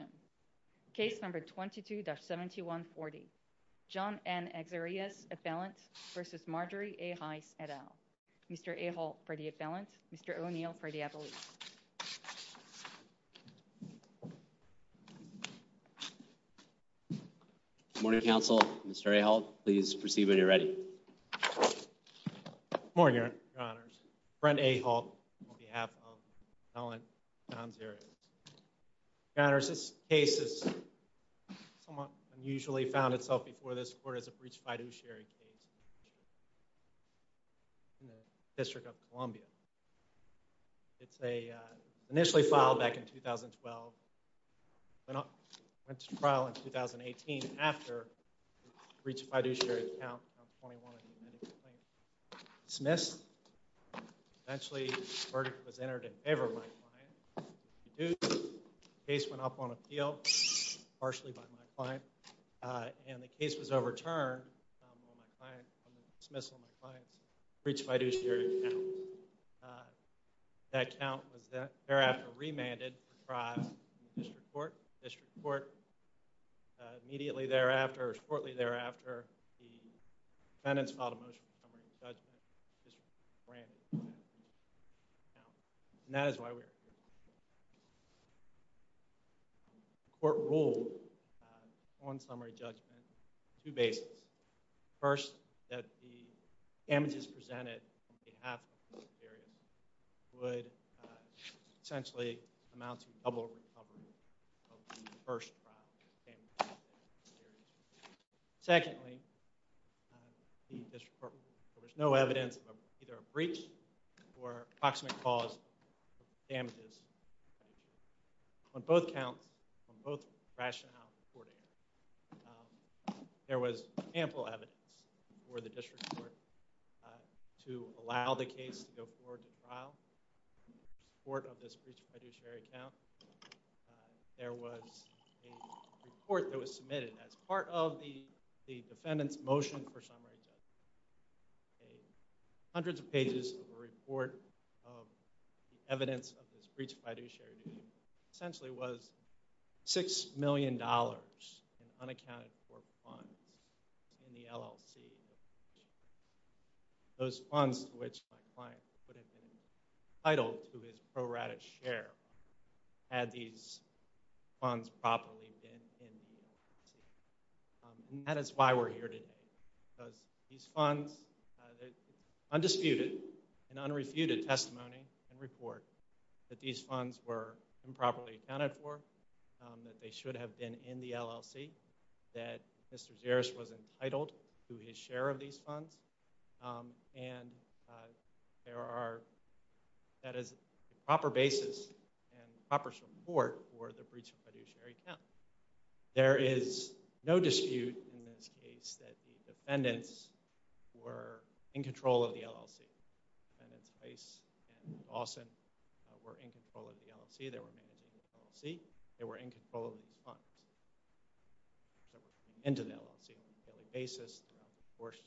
et al. Mr. A. Holt for the appellant, Mr. O'Neill for the appellate. Good morning, counsel. Mr. A. Holt, please proceed when you're ready. Good morning, Your Honors. Brent A. Holt on behalf of the appellant, John Xereas. Your Honor, the case is somewhat unusually found itself before this court as a breach of fiduciary case in the District of Columbia. It's initially filed back in 2012, went to trial in 2018 after the breach of fiduciary count 21 in the admitting complaint was dismissed. Eventually, the verdict was entered in favor of my client. The case went up on appeal, partially by my client, and the case was overturned on the dismissal of my client's breach of fiduciary count. That count was thereafter remanded for trial in the District Court. The District Court immediately thereafter, or shortly thereafter, the defendants filed a motion for summary judgment. That is why we're here. The court ruled on summary judgment on two bases. First, that the damages presented on behalf of Mr. Xereas would essentially amount to double recovery of the first trial damages. Secondly, there was no evidence of either a breach or approximate cause of damages. On both counts, on both rationales before the hearing, there was ample evidence for the District Court to allow the case to go forward to trial in There was a report that was submitted as part of the defendant's motion for summary judgment. Hundreds of pages of a report of the evidence of his breach of fiduciary duty. Essentially, it was $6 million in unaccounted for funds in the LLC. Those funds to which my client would have been entitled to his pro rata share had these funds properly been in the LLC. That is why we're here today. Because these funds, undisputed and unrefuted testimony and report that these funds were improperly accounted for, that they should have been in the LLC, that Mr. Xereas was entitled to his share of these funds, and there are that is a proper basis and proper support for the breach of fiduciary account. There is no dispute in this case that the defendants were in control of the LLC. The defendants, Heiss and Dawson, were in control of the LLC. They were managing the LLC. They were in control of these funds. They were coming into the LLC on a daily basis throughout the course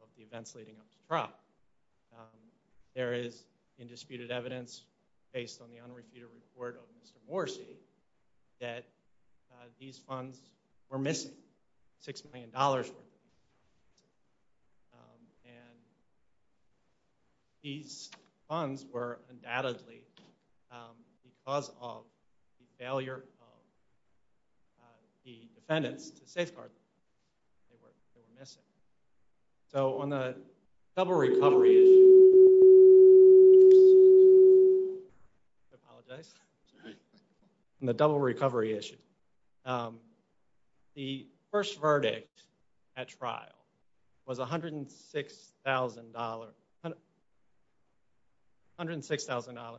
of the events leading up to trial. There is undisputed evidence based on the unrefuted report of Mr. Morrisey that these funds were missing. $6 million were missing. These funds were undoubtedly because of the failure of the defendants to safeguard them. They were missing. On the double recovery issue, I apologize. On the double recovery issue, the first verdict at trial was $106,000. $106,000.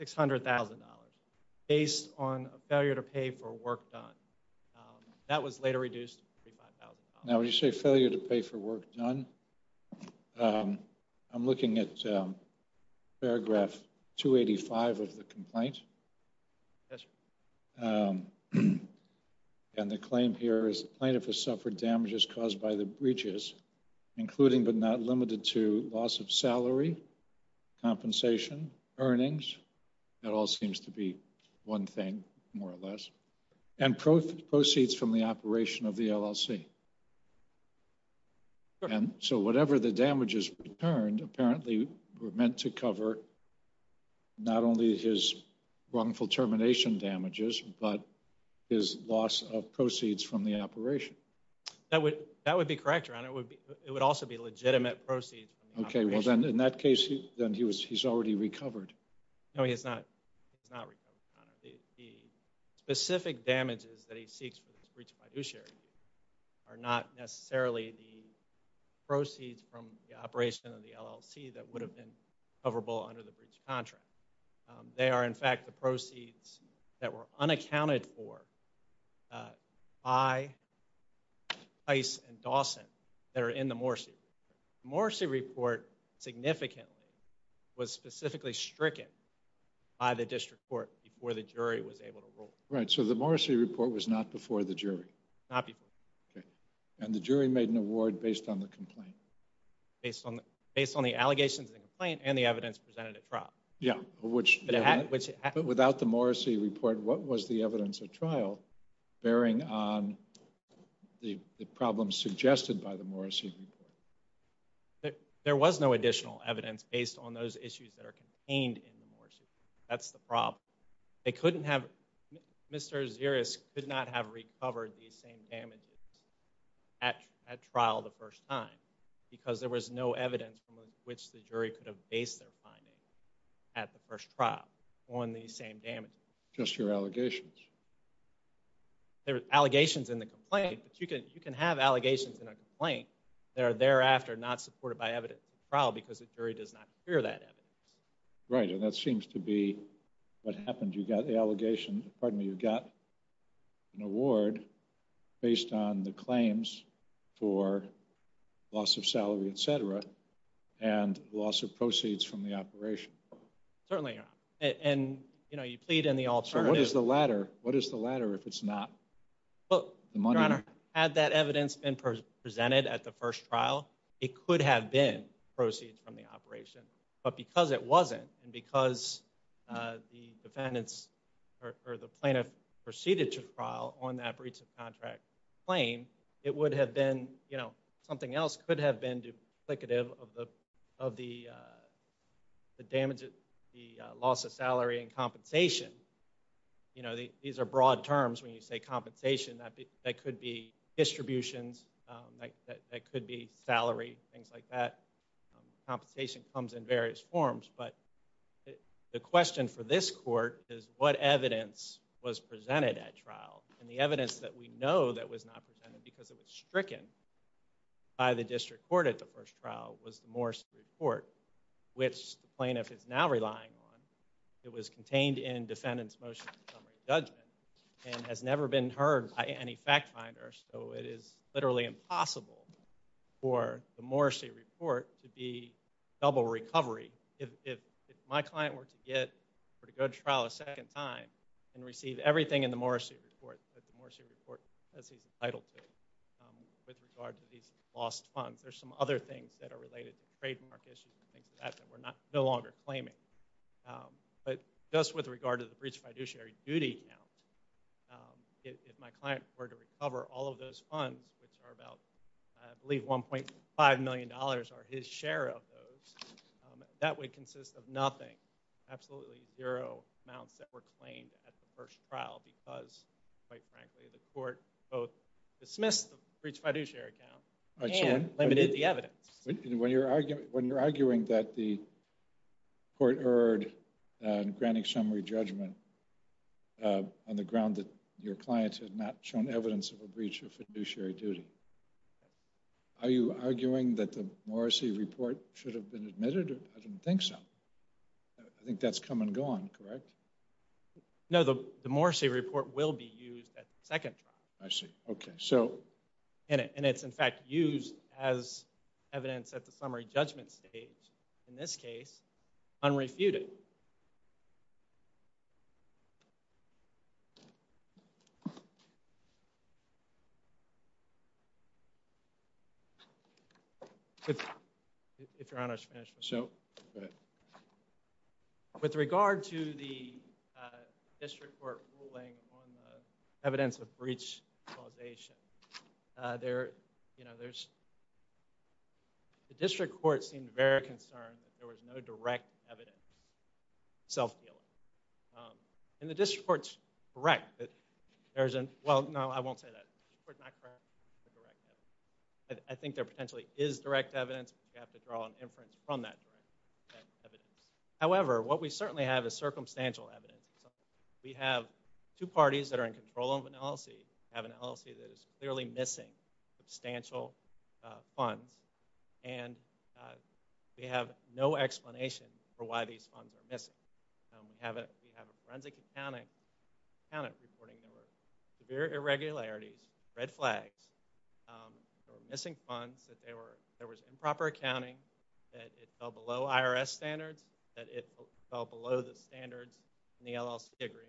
$600,000 based on a failure to pay for work done. That was later reduced to $35,000. Now, when you say failure to pay for work done, I am looking at paragraph 285 of the complaint. And the claim here is the plaintiff has suffered damages caused by the breaches, including but not limited to loss of salary, compensation, earnings. That all seems to be one thing, more or less. And proceeds from the operation of the LLC. And so whatever the damages returned apparently were meant to cover not only his wrongful termination damages, but his loss of proceeds from the operation. That would be correct, Your Honor. It would also be legitimate proceeds. Okay, well then in that case, he's already recovered. No, he has not recovered, Your Honor. The specific damages that he seeks for this breach of fiduciary are not necessarily the proceeds from the operation of the LLC that would have been coverable under the breach of contract. They are in fact the proceeds that were unaccounted for by Pace and Dawson that are in the Morsi report. The Morsi report significantly was specifically stricken by the district court before the jury was able to rule. Right, so the Morsi report was not before the jury. Not before. And the jury made an award based on the complaint. Based on the allegations of the complaint and the evidence presented at trial. Yeah, but without the Morsi report, what was the evidence at trial bearing on the problems suggested by the Morsi report? There was no additional evidence based on those issues that are contained in the Morsi report. That's the problem. They couldn't have, Mr. Aziris could not have recovered these same damages at trial the first time because there was no evidence from which the jury could have based their finding at the first trial on these same damages. Just your allegations. There were allegations in the complaint, but you can have allegations in a complaint that are thereafter not supported by evidence at trial because the jury does not hear that evidence. Right, and that seems to be what happened. You got the allegation, pardon me, you got an award based on the claims for loss of salary, etc., and loss of proceeds from the operation. Certainly, Your Honor. And, you know, you plead in the alternative. So what is the latter? What is the latter if it's not the money? Your Honor, had that evidence been presented at the first trial, it could have been proceeds from the operation. But because it wasn't, and because the plaintiff proceeded to trial on that breach of contract claim, it would have been, you know, something else could have been duplicative of the damage, the loss of salary and compensation. You know, these are broad terms when you say compensation. That could be distributions, that could be salary, things like that. Compensation comes in various forms, but the question for this court is what evidence was presented at trial. And the evidence that we know that was not presented because it was stricken by the district court at the first trial was the Morrissey Report, which the plaintiff is now relying on. It was contained in defendant's motion to summary judgment and has never been heard by any fact finder. So it is literally impossible for the Morrissey Report to be double recovery. If my client were to go to trial a second time and receive everything in the Morrissey Report, the Morrissey Report, as he's entitled to, with regard to these lost funds, there's some other things that are related to trademark issues and things like that that we're no longer claiming. But just with regard to the breach of fiduciary duty account, if my client were to recover all of those funds, which are about, I believe, $1.5 million are his share of those, that would consist of nothing, absolutely zero amounts that were claimed at the first trial because, quite frankly, the court both dismissed the breach of fiduciary account and limited the evidence. When you're arguing that the court erred in granting summary judgment on the ground that your client had not shown evidence of a breach of fiduciary duty, are you arguing that the Morrissey Report should have been admitted? I don't think so. I think that's come and gone, correct? No, the Morrissey Report will be used at the second trial. I see. Okay. So? And it's, in fact, used as evidence at the summary judgment stage, in this case, unrefuted. If Your Honor should finish. So, go ahead. With regard to the district court ruling on the evidence of breach causation, the district court seemed very concerned that there was no direct evidence of self-healing. And the district court's correct that there's a—well, no, I won't say that. The district court's not correct that there's a direct evidence. I think there potentially is direct evidence, but you have to draw an inference from that direct evidence. However, what we certainly have is circumstantial evidence. We have two parties that are in control of an LLC, have an LLC that is clearly missing substantial funds, and we have no explanation for why these funds are missing. We have a forensic accountant reporting there were severe irregularities, red flags, there were missing funds, that there was improper accounting, that it fell below IRS standards, that it fell below the standards in the LLC agreement.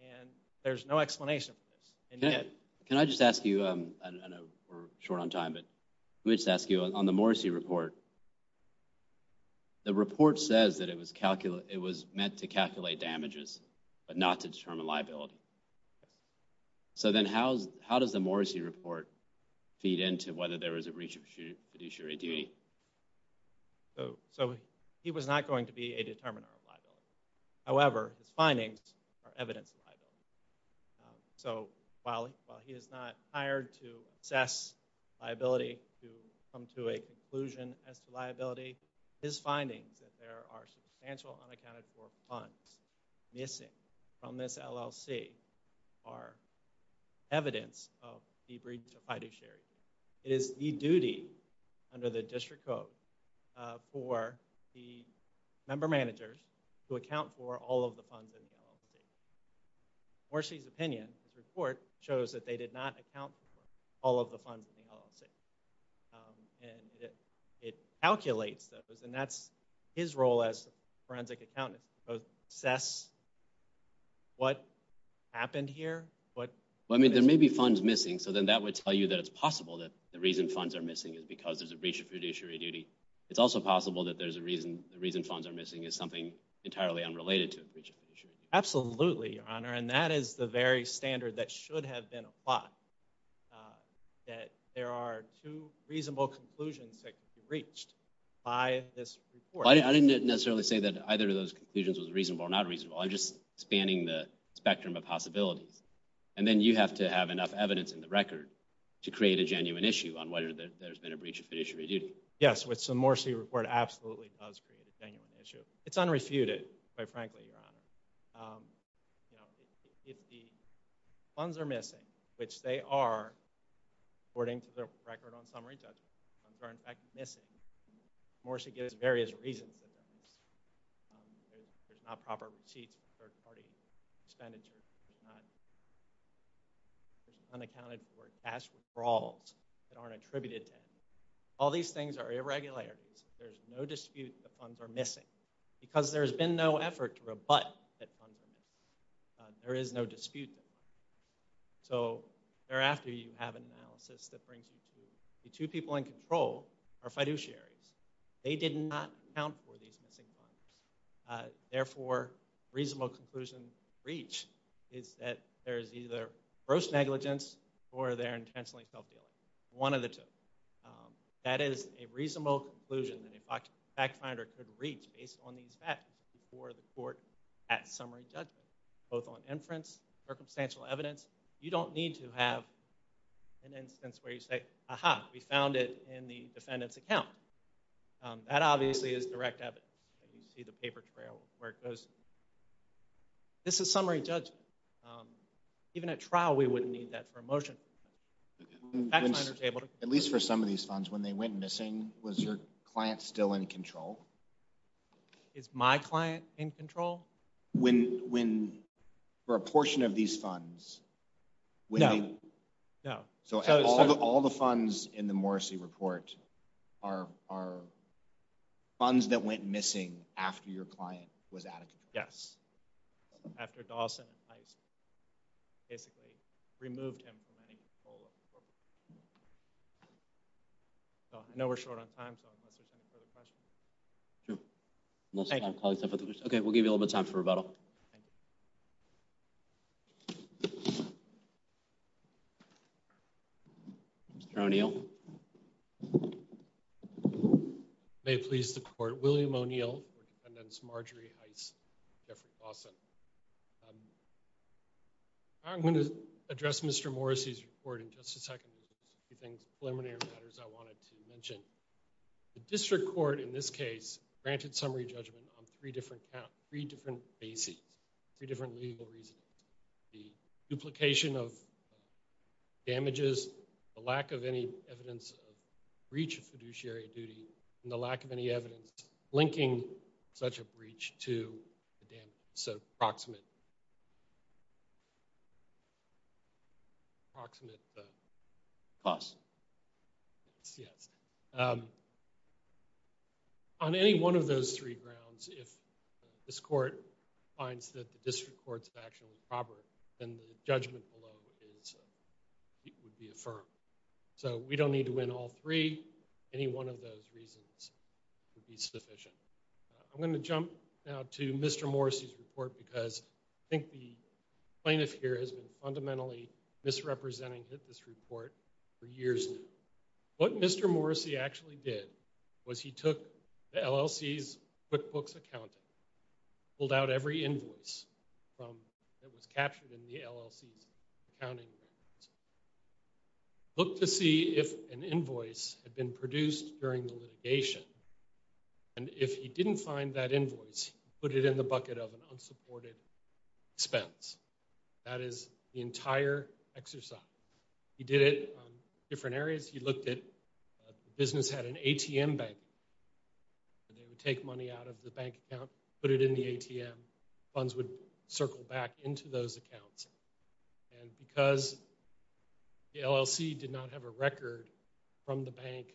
And there's no explanation for this. Can I just ask you—I know we're short on time, but let me just ask you—on the Morrissey Report, the report says that it was meant to calculate damages but not to determine liability. So then how does the Morrissey Report feed into whether there was a breach of fiduciary duty? So he was not going to be a determiner of liability. However, his findings are evidence of liability. So while he is not hired to assess liability to come to a conclusion as to liability, his findings that there are substantial unaccounted for funds missing from this LLC are evidence of the breach of fiduciary. It is the duty under the District Code for the member managers to account for all of the funds in the LLC. Morrissey's opinion, his report, shows that they did not account for all of the funds in the LLC. And it calculates those, and that's his role as a forensic accountant, to assess what happened here. Well, I mean, there may be funds missing. So then that would tell you that it's possible that the reason funds are missing is because there's a breach of fiduciary duty. It's also possible that the reason funds are missing is something entirely unrelated to a breach of fiduciary duty. Absolutely, Your Honor, and that is the very standard that should have been applied, that there are two reasonable conclusions that could be reached by this report. I didn't necessarily say that either of those conclusions was reasonable or not reasonable. I'm just spanning the spectrum of possibilities. And then you have to have enough evidence in the record to create a genuine issue on whether there's been a breach of fiduciary duty. Yes, so Morrissey's report absolutely does create a genuine issue. It's unrefuted, quite frankly, Your Honor. If the funds are missing, which they are, according to the record on summary judgment, if the funds are in fact missing, Morrissey gives various reasons for that. There's not proper receipts for third-party expenditures. There's unaccounted for cash withdrawals that aren't attributed to him. All these things are irregularities. There's no dispute that the funds are missing because there's been no effort to rebut that funds are missing. There is no dispute. So thereafter, you have an analysis that brings you to the two people in control are fiduciaries. They did not account for these missing funds. Therefore, a reasonable conclusion to reach is that there is either gross negligence or they're intentionally self-dealing, one of the two. That is a reasonable conclusion that a fact-finder could reach based on these facts before the court at summary judgment, both on inference, circumstantial evidence. You don't need to have an instance where you say, aha, we found it in the defendant's account. That obviously is direct evidence. You see the paper trail where it goes. This is summary judgment. Even at trial, we wouldn't need that for a motion. At least for some of these funds, when they went missing, was your client still in control? Is my client in control? For a portion of these funds? No. So all the funds in the Morrissey report are funds that went missing after your client was out of control? Yes. After Dawson, I basically removed him from any control. I know we're short on time, so unless there's any further questions. Sure. Okay, we'll give you a little bit of time for rebuttal. Thank you. Mr. O'Neill. May it please the Court, William O'Neill for Defendant Marjorie Heiss, Jeffrey Dawson. I'm going to address Mr. Morrissey's report in just a second. There's a few things, preliminary matters I wanted to mention. The district court in this case granted summary judgment on three different bases, three different legal reasons. The duplication of damages, the lack of any evidence of breach of fiduciary duty, and the lack of any evidence linking such a breach to the damages. So approximate costs. Yes. On any one of those three grounds, if this Court finds that the district court's action was proper, then the judgment below would be affirmed. So we don't need to win all three. Any one of those reasons would be sufficient. I'm going to jump now to Mr. Morrissey's report because I think the plaintiff here has been fundamentally misrepresenting this report for years now. What Mr. Morrissey actually did was he took the LLC's QuickBooks accounting, pulled out every invoice that was captured in the LLC's accounting records, looked to see if an invoice had been produced during the litigation. And if he didn't find that invoice, he put it in the bucket of an unsupported expense. That is the entire exercise. He did it on different areas. He looked at the business had an ATM bank. They would take money out of the bank account, put it in the ATM. Funds would circle back into those accounts. And because the LLC did not have a record from the bank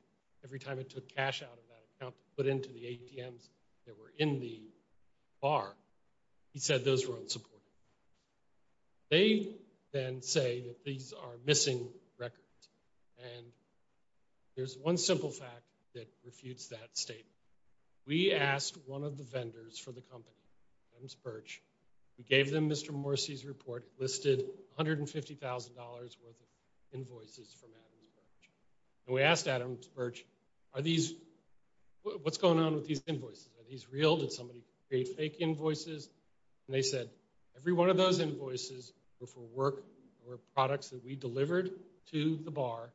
every time it took cash out of that account to put into the ATMs that were in the bar, he said those were unsupported. They then say that these are missing records. And there's one simple fact that refutes that statement. We asked one of the vendors for the company, Adams Birch. We gave them Mr. Morrissey's report. It listed $150,000 worth of invoices from Adams Birch. And we asked Adams Birch, what's going on with these invoices? Are these real? Did somebody create fake invoices? And they said every one of those invoices were for work or products that we delivered to the bar.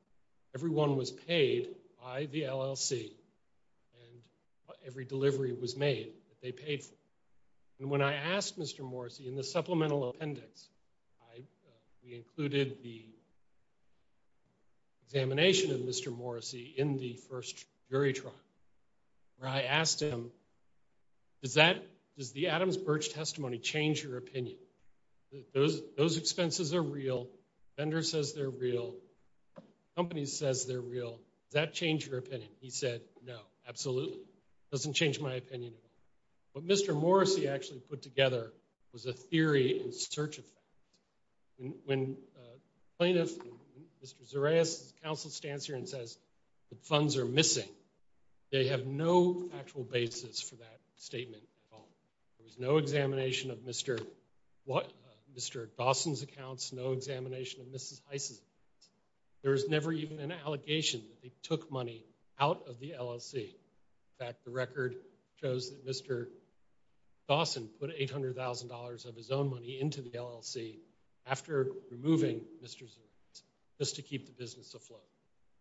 Every one was paid by the LLC. And every delivery was made that they paid for. And when I asked Mr. Morrissey in the supplemental appendix, we included the examination of Mr. Morrissey in the first jury trial where I asked him, does the Adams Birch testimony change your opinion? Those expenses are real. The vendor says they're real. The company says they're real. Does that change your opinion? He said, no, absolutely. It doesn't change my opinion at all. What Mr. Morrissey actually put together was a theory in search of fact. When plaintiff, Mr. Zareas' counsel stands here and says the funds are missing, they have no factual basis for that statement at all. There was no examination of Mr. Dawson's accounts, no examination of Mrs. Heise's accounts. There was never even an allegation that they took money out of the LLC. In fact, the record shows that Mr. Dawson put $800,000 of his own money into the LLC after removing Mr. Zareas just to keep the business afloat.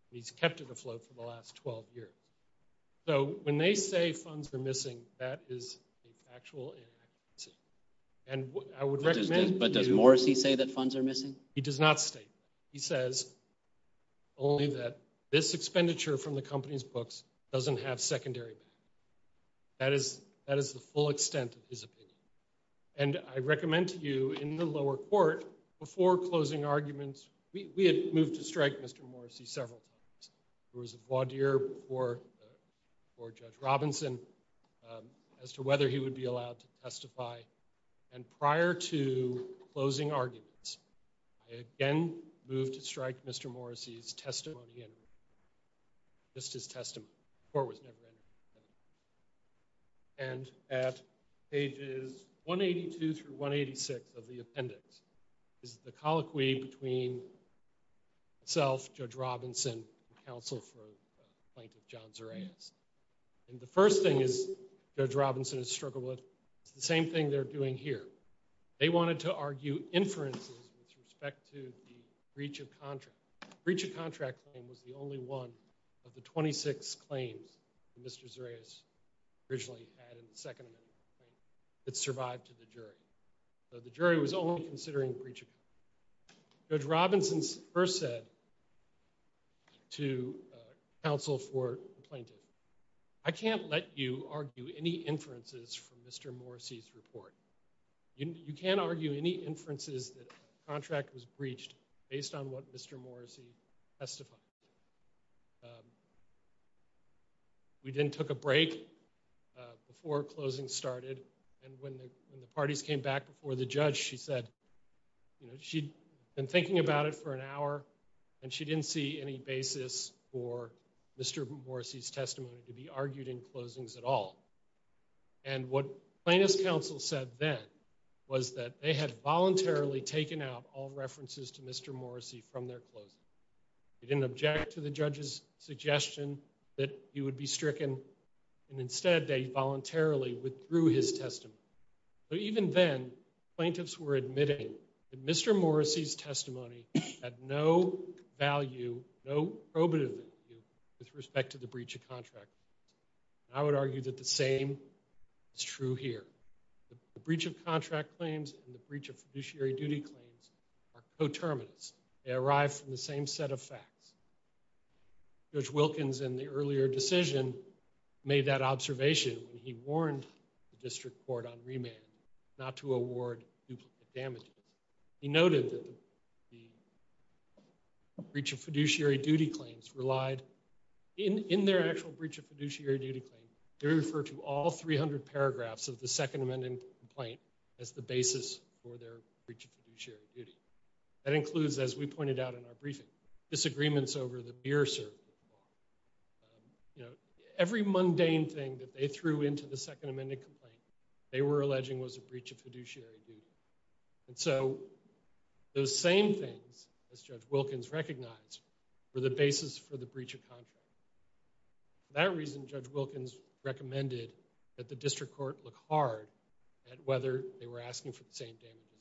And he's kept it afloat for the last 12 years. So when they say funds are missing, that is a factual inaccuracy. But does Morrissey say that funds are missing? He does not state that. He says only that this expenditure from the company's books doesn't have secondary value. That is the full extent of his opinion. And I recommend to you in the lower court, before closing arguments, we had moved to strike Mr. Morrissey several times. There was a voir dire before Judge Robinson as to whether he would be allowed to testify. And prior to closing arguments, I again moved to strike Mr. Morrissey's testimony, just his testimony. The court was never interested. And at pages 182 through 186 of the appendix is the colloquy between myself, Judge Robinson, and counsel for plaintiff John Zareas. And the first thing Judge Robinson has struggled with is the same thing they're doing here. They wanted to argue inferences with respect to the breach of contract. The breach of contract claim was the only one of the 26 claims that Mr. Zareas originally had in the Second Amendment that survived to the jury. So the jury was only considering breach of contract. Judge Robinson first said to counsel for the plaintiff, I can't let you argue any inferences from Mr. Morrissey's report. You can't argue any inferences that a contract was breached based on what Mr. Morrissey testified. We then took a break before closing started. And when the parties came back before the judge, she said she'd been thinking about it for an hour, and she didn't see any basis for Mr. Morrissey's testimony to be argued in closings at all. And what plaintiff's counsel said then was that they had voluntarily taken out all references to Mr. Morrissey from their closing. They didn't object to the judge's suggestion that he would be stricken, and instead they voluntarily withdrew his testimony. But even then, plaintiffs were admitting that Mr. Morrissey's testimony had no value, no probative value, with respect to the breach of contract. I would argue that the same is true here. The breach of contract claims and the breach of fiduciary duty claims are coterminous. They arrive from the same set of facts. Judge Wilkins, in the earlier decision, made that observation when he warned the district court on remand not to award duplicate damages. He noted that the breach of fiduciary duty claims relied, in their actual breach of fiduciary duty claim, they refer to all 300 paragraphs of the Second Amendment complaint as the basis for their breach of fiduciary duty. That includes, as we pointed out in our briefing, disagreements over the beer cert. You know, every mundane thing that they threw into the Second Amendment complaint, they were alleging was a breach of fiduciary duty. And so, those same things, as Judge Wilkins recognized, were the basis for the breach of contract. For that reason, Judge Wilkins recommended that the district court look hard at whether they were asking for the same damages.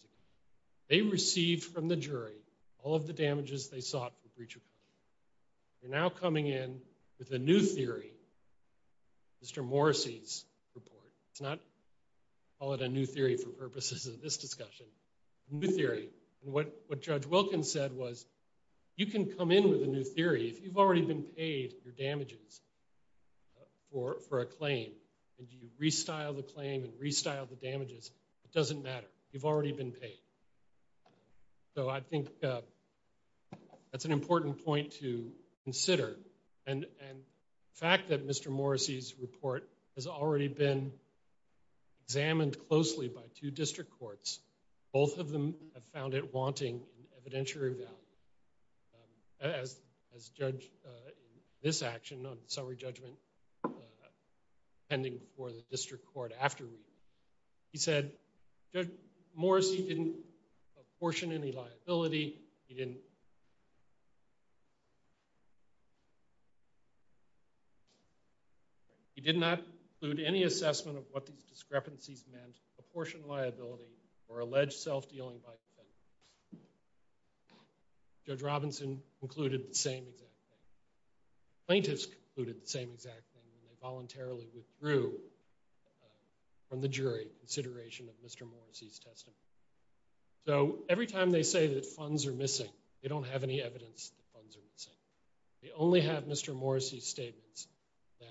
They received from the jury all of the damages they sought for breach of contract. We're now coming in with a new theory, Mr. Morrissey's report. Let's not call it a new theory for purposes of this discussion. A new theory. And what Judge Wilkins said was, you can come in with a new theory if you've already been paid your damages for a claim. And you restyle the claim and restyle the damages. It doesn't matter. You've already been paid. So, I think that's an important point to consider. And the fact that Mr. Morrissey's report has already been examined closely by two district courts, both of them have found it wanting evidentiary value. As Judge, in this action on summary judgment, pending for the district court after reading, he said, Judge Morrissey didn't apportion any liability. He didn't include any assessment of what these discrepancies meant, apportioned liability, or alleged self-dealing by defendants. Judge Robinson concluded the same exact thing. of Mr. Morrissey's testimony. So, every time they say that funds are missing, they don't have any evidence that funds are missing. They only have Mr. Morrissey's statements that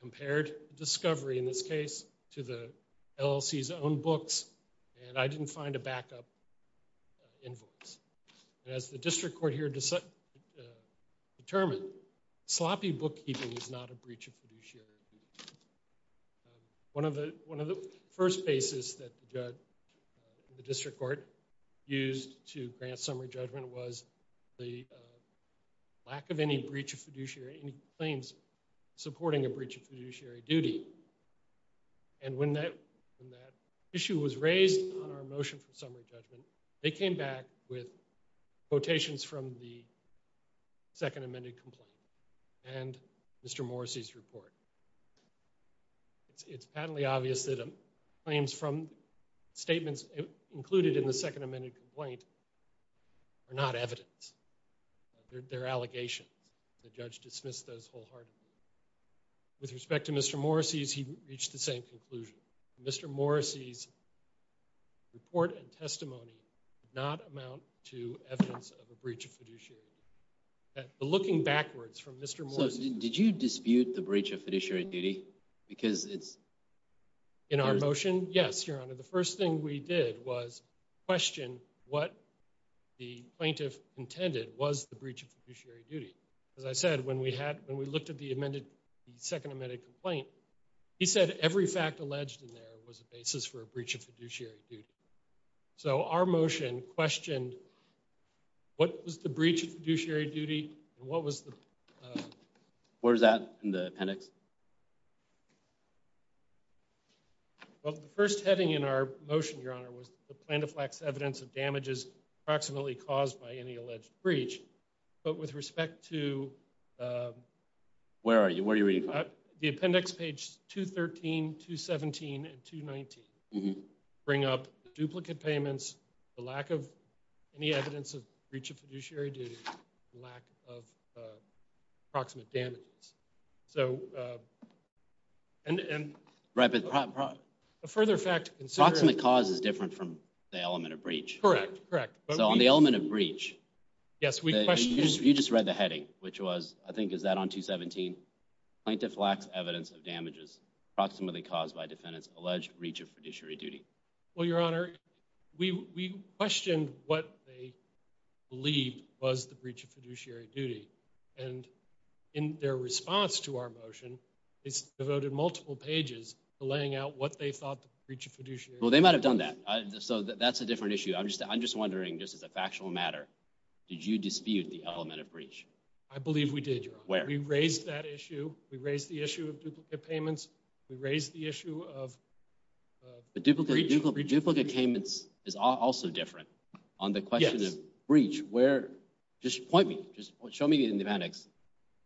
compared discovery in this case to the LLC's own books, and I didn't find a backup invoice. As the district court here determined, sloppy bookkeeping is not a breach of fiduciary duty. One of the first bases that the district court used to grant summary judgment was the lack of any breach of fiduciary claims supporting a breach of fiduciary duty. And when that issue was raised on our motion for summary judgment, they came back with quotations from the second amended complaint and Mr. Morrissey's report. It's patently obvious that claims from statements included in the second amended complaint are not evidence. They're allegations. The judge dismissed those wholeheartedly. With respect to Mr. Morrissey's, he reached the same conclusion. Mr. Morrissey's report and testimony did not amount to evidence of a breach of fiduciary duty. Looking backwards from Mr. Morrissey's... So, did you dispute the breach of fiduciary duty? Because it's... In our motion? Yes, Your Honor. The first thing we did was question what the plaintiff intended was the breach of fiduciary duty. As I said, when we looked at the second amended complaint, he said every fact alleged in there was a basis for a breach of fiduciary duty. So, our motion questioned what was the breach of fiduciary duty and what was the... What was that in the appendix? Well, the first heading in our motion, Your Honor, was the plaintiff lacks evidence of damages approximately caused by any alleged breach. But with respect to... Where are you? Where are you reading from? The appendix page 213, 217, and 219 bring up duplicate payments, the lack of any evidence of breach of fiduciary duty, and lack of approximate damages. So, and... Right, but... A further fact... Approximate cause is different from the element of breach. Correct, correct. So, on the element of breach... Yes, we questioned... You just read the heading, which was, I think, is that on 217? Plaintiff lacks evidence of damages approximately caused by defendant's alleged breach of fiduciary duty. Well, Your Honor, we questioned what they believed was the breach of fiduciary duty. And in their response to our motion, they devoted multiple pages to laying out what they thought the breach of fiduciary duty was. Well, they might have done that. So, that's a different issue. I'm just wondering, just as a factual matter, did you dispute the element of breach? I believe we did, Your Honor. Where? We raised that issue. We raised the issue of duplicate payments. We raised the issue of breach. But duplicate payments is also different. Yes. On the question of breach, where... Just point me. Just show me in the appendix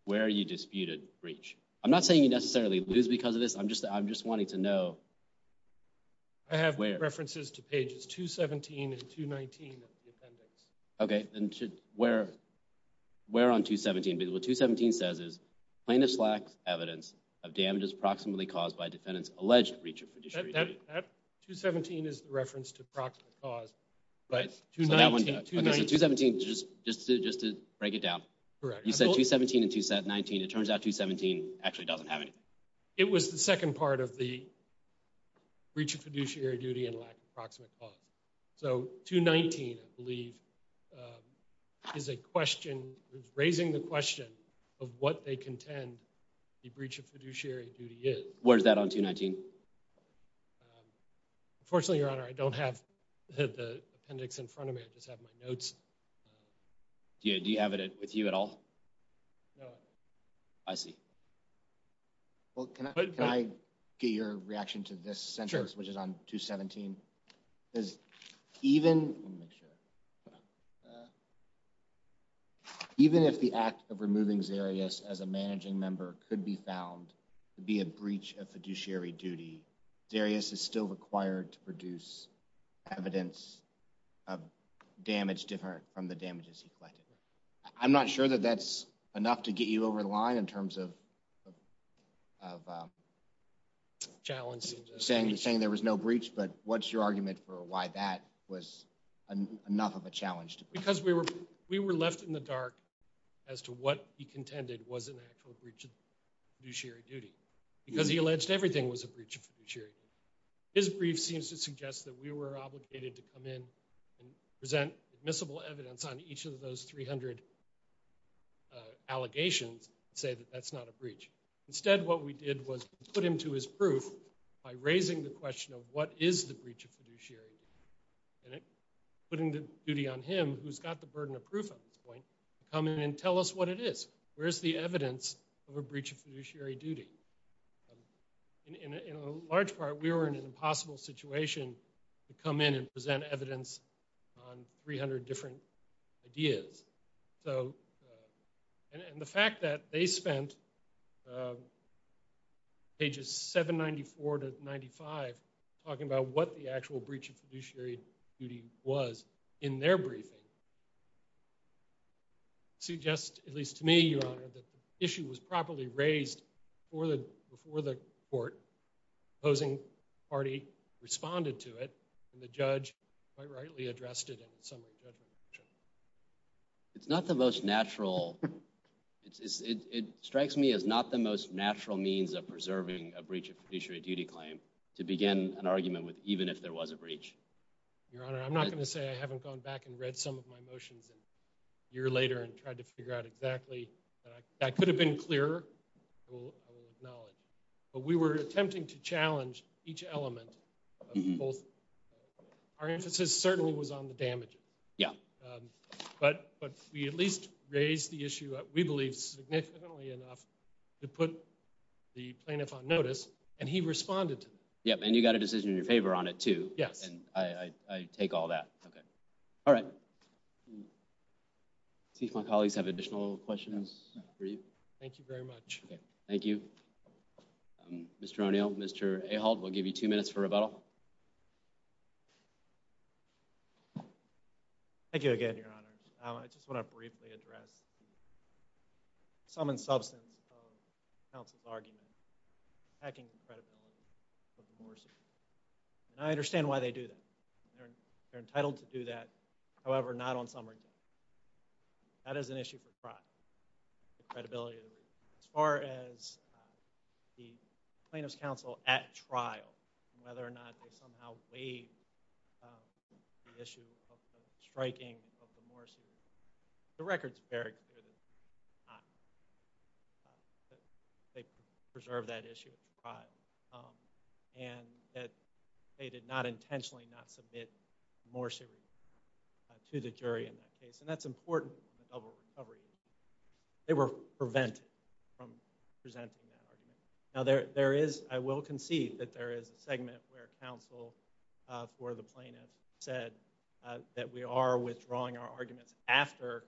where you disputed breach. I'm not saying you necessarily lose because of this. I'm just wanting to know where. I have references to pages 217 and 219 of the appendix. Okay. And where on 217? Because what 217 says is, Plaintiff lacks evidence of damages approximately caused by defendant's alleged breach of fiduciary duty. That 217 is the reference to approximate cause. Right. 219. Okay, so 217, just to break it down. Correct. You said 217 and 219. It turns out 217 actually doesn't have anything. It was the second part of the breach of fiduciary duty and lack of approximate cause. So 219, I believe, is a question. It's raising the question of what they contend the breach of fiduciary duty is. Where's that on 219? Unfortunately, Your Honor, I don't have the appendix in front of me. I just have my notes. Do you have it with you at all? No. I see. Well, can I get your reaction to this sentence, which is on 217? Even if the act of removing Zarius as a managing member could be found to be a breach of fiduciary duty, Zarius is still required to produce evidence of damage different from the damages he collected. I'm not sure that that's enough to get you over the line in terms of saying there was no breach, but what's your argument for why that was enough of a challenge? Because we were left in the dark as to what he contended was an actual breach of fiduciary duty because he alleged everything was a breach of fiduciary duty. His brief seems to suggest that we were obligated to come in and present admissible evidence on each of those 300 allegations and say that that's not a breach. Instead, what we did was put him to his proof by raising the question of what is the breach of fiduciary duty and putting the duty on him, who's got the burden of proof at this point, to come in and tell us what it is. Where's the evidence of a breach of fiduciary duty? In a large part, we were in an impossible situation to come in and present evidence on 300 different ideas. And the fact that they spent pages 794 to 95 talking about what the actual breach of fiduciary duty was in their briefing suggests, at least to me, Your Honor, that the issue was properly raised before the court. The opposing party responded to it, and the judge quite rightly addressed it in the summary judgment. It's not the most natural. It strikes me as not the most natural means of preserving a breach of fiduciary duty claim to begin an argument with even if there was a breach. Your Honor, I'm not going to say I haven't gone back and read some of my motions a year later and tried to figure out exactly. That could have been clearer. I will acknowledge. But we were attempting to challenge each element of both. Our emphasis certainly was on the damage. Yeah. But we at least raised the issue, we believe, significantly enough to put the plaintiff on notice. And he responded to that. Yeah, and you got a decision in your favor on it, too. Yes. And I take all that. Okay. All right. Let's see if my colleagues have additional questions for you. Thank you very much. Okay. Thank you. Mr. O'Neill, Mr. Ahold, we'll give you two minutes for rebuttal. Thank you again, Your Honor. I just want to briefly address the sum and substance of counsel's argument attacking the credibility of the Morsi. And I understand why they do that. They're entitled to do that. However, not on summary day. That is an issue for trial. The credibility of the Morsi. As far as the plaintiff's counsel at trial, whether or not they somehow waived the issue of the striking of the Morsi, the record's very clear that they did not. They preserved that issue at trial. And that they did not intentionally not submit Morsi to the jury in that case. And that's important in the double recovery. They were prevented from presenting that argument. Now, there is, I will concede that there is a segment where counsel for the plaintiff said that we are withdrawing our arguments after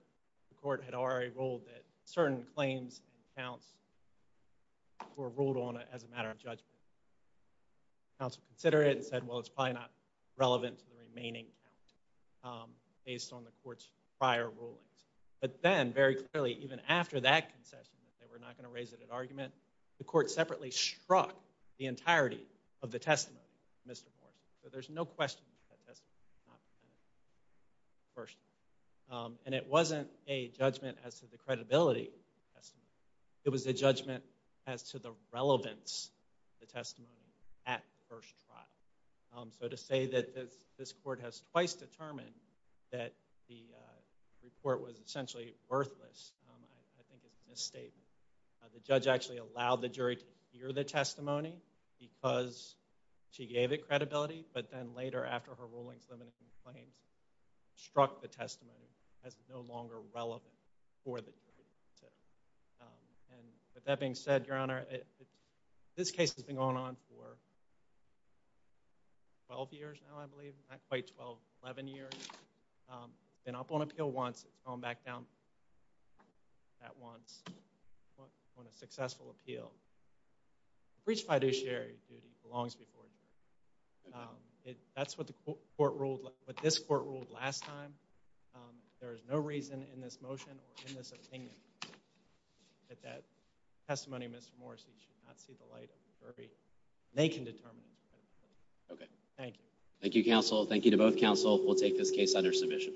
the court had already ruled that certain claims and counts were ruled on as a matter of judgment. Counsel considered it and said, well, it's probably not relevant to the remaining count based on the court's prior rulings. But then, very clearly, even after that concession, that they were not going to raise it at argument, the court separately struck the entirety of the testimony of Mr. Morsi. So there's no question that that testimony was not presented first. And it wasn't a judgment as to the credibility of the testimony. It was a judgment as to the relevance of the testimony at the first trial. So to say that this court has twice determined that the report was essentially worthless, I think is a misstatement. The judge actually allowed the jury to hear the testimony because she gave it credibility. But then later, after her rulings limiting the claims, struck the testimony as no longer relevant for the jury to hear. And with that being said, Your Honor, this case has been going on for 12 years now, I believe, not quite 12, 11 years. It's been up on appeal once. It's gone back down that once on a successful appeal. That's what this court ruled last time. There is no reason in this motion or in this opinion that that testimony of Mr. Morsi should not see the light of the jury. They can determine. Thank you. Thank you, counsel. Thank you to both counsel. We'll take this case under submission.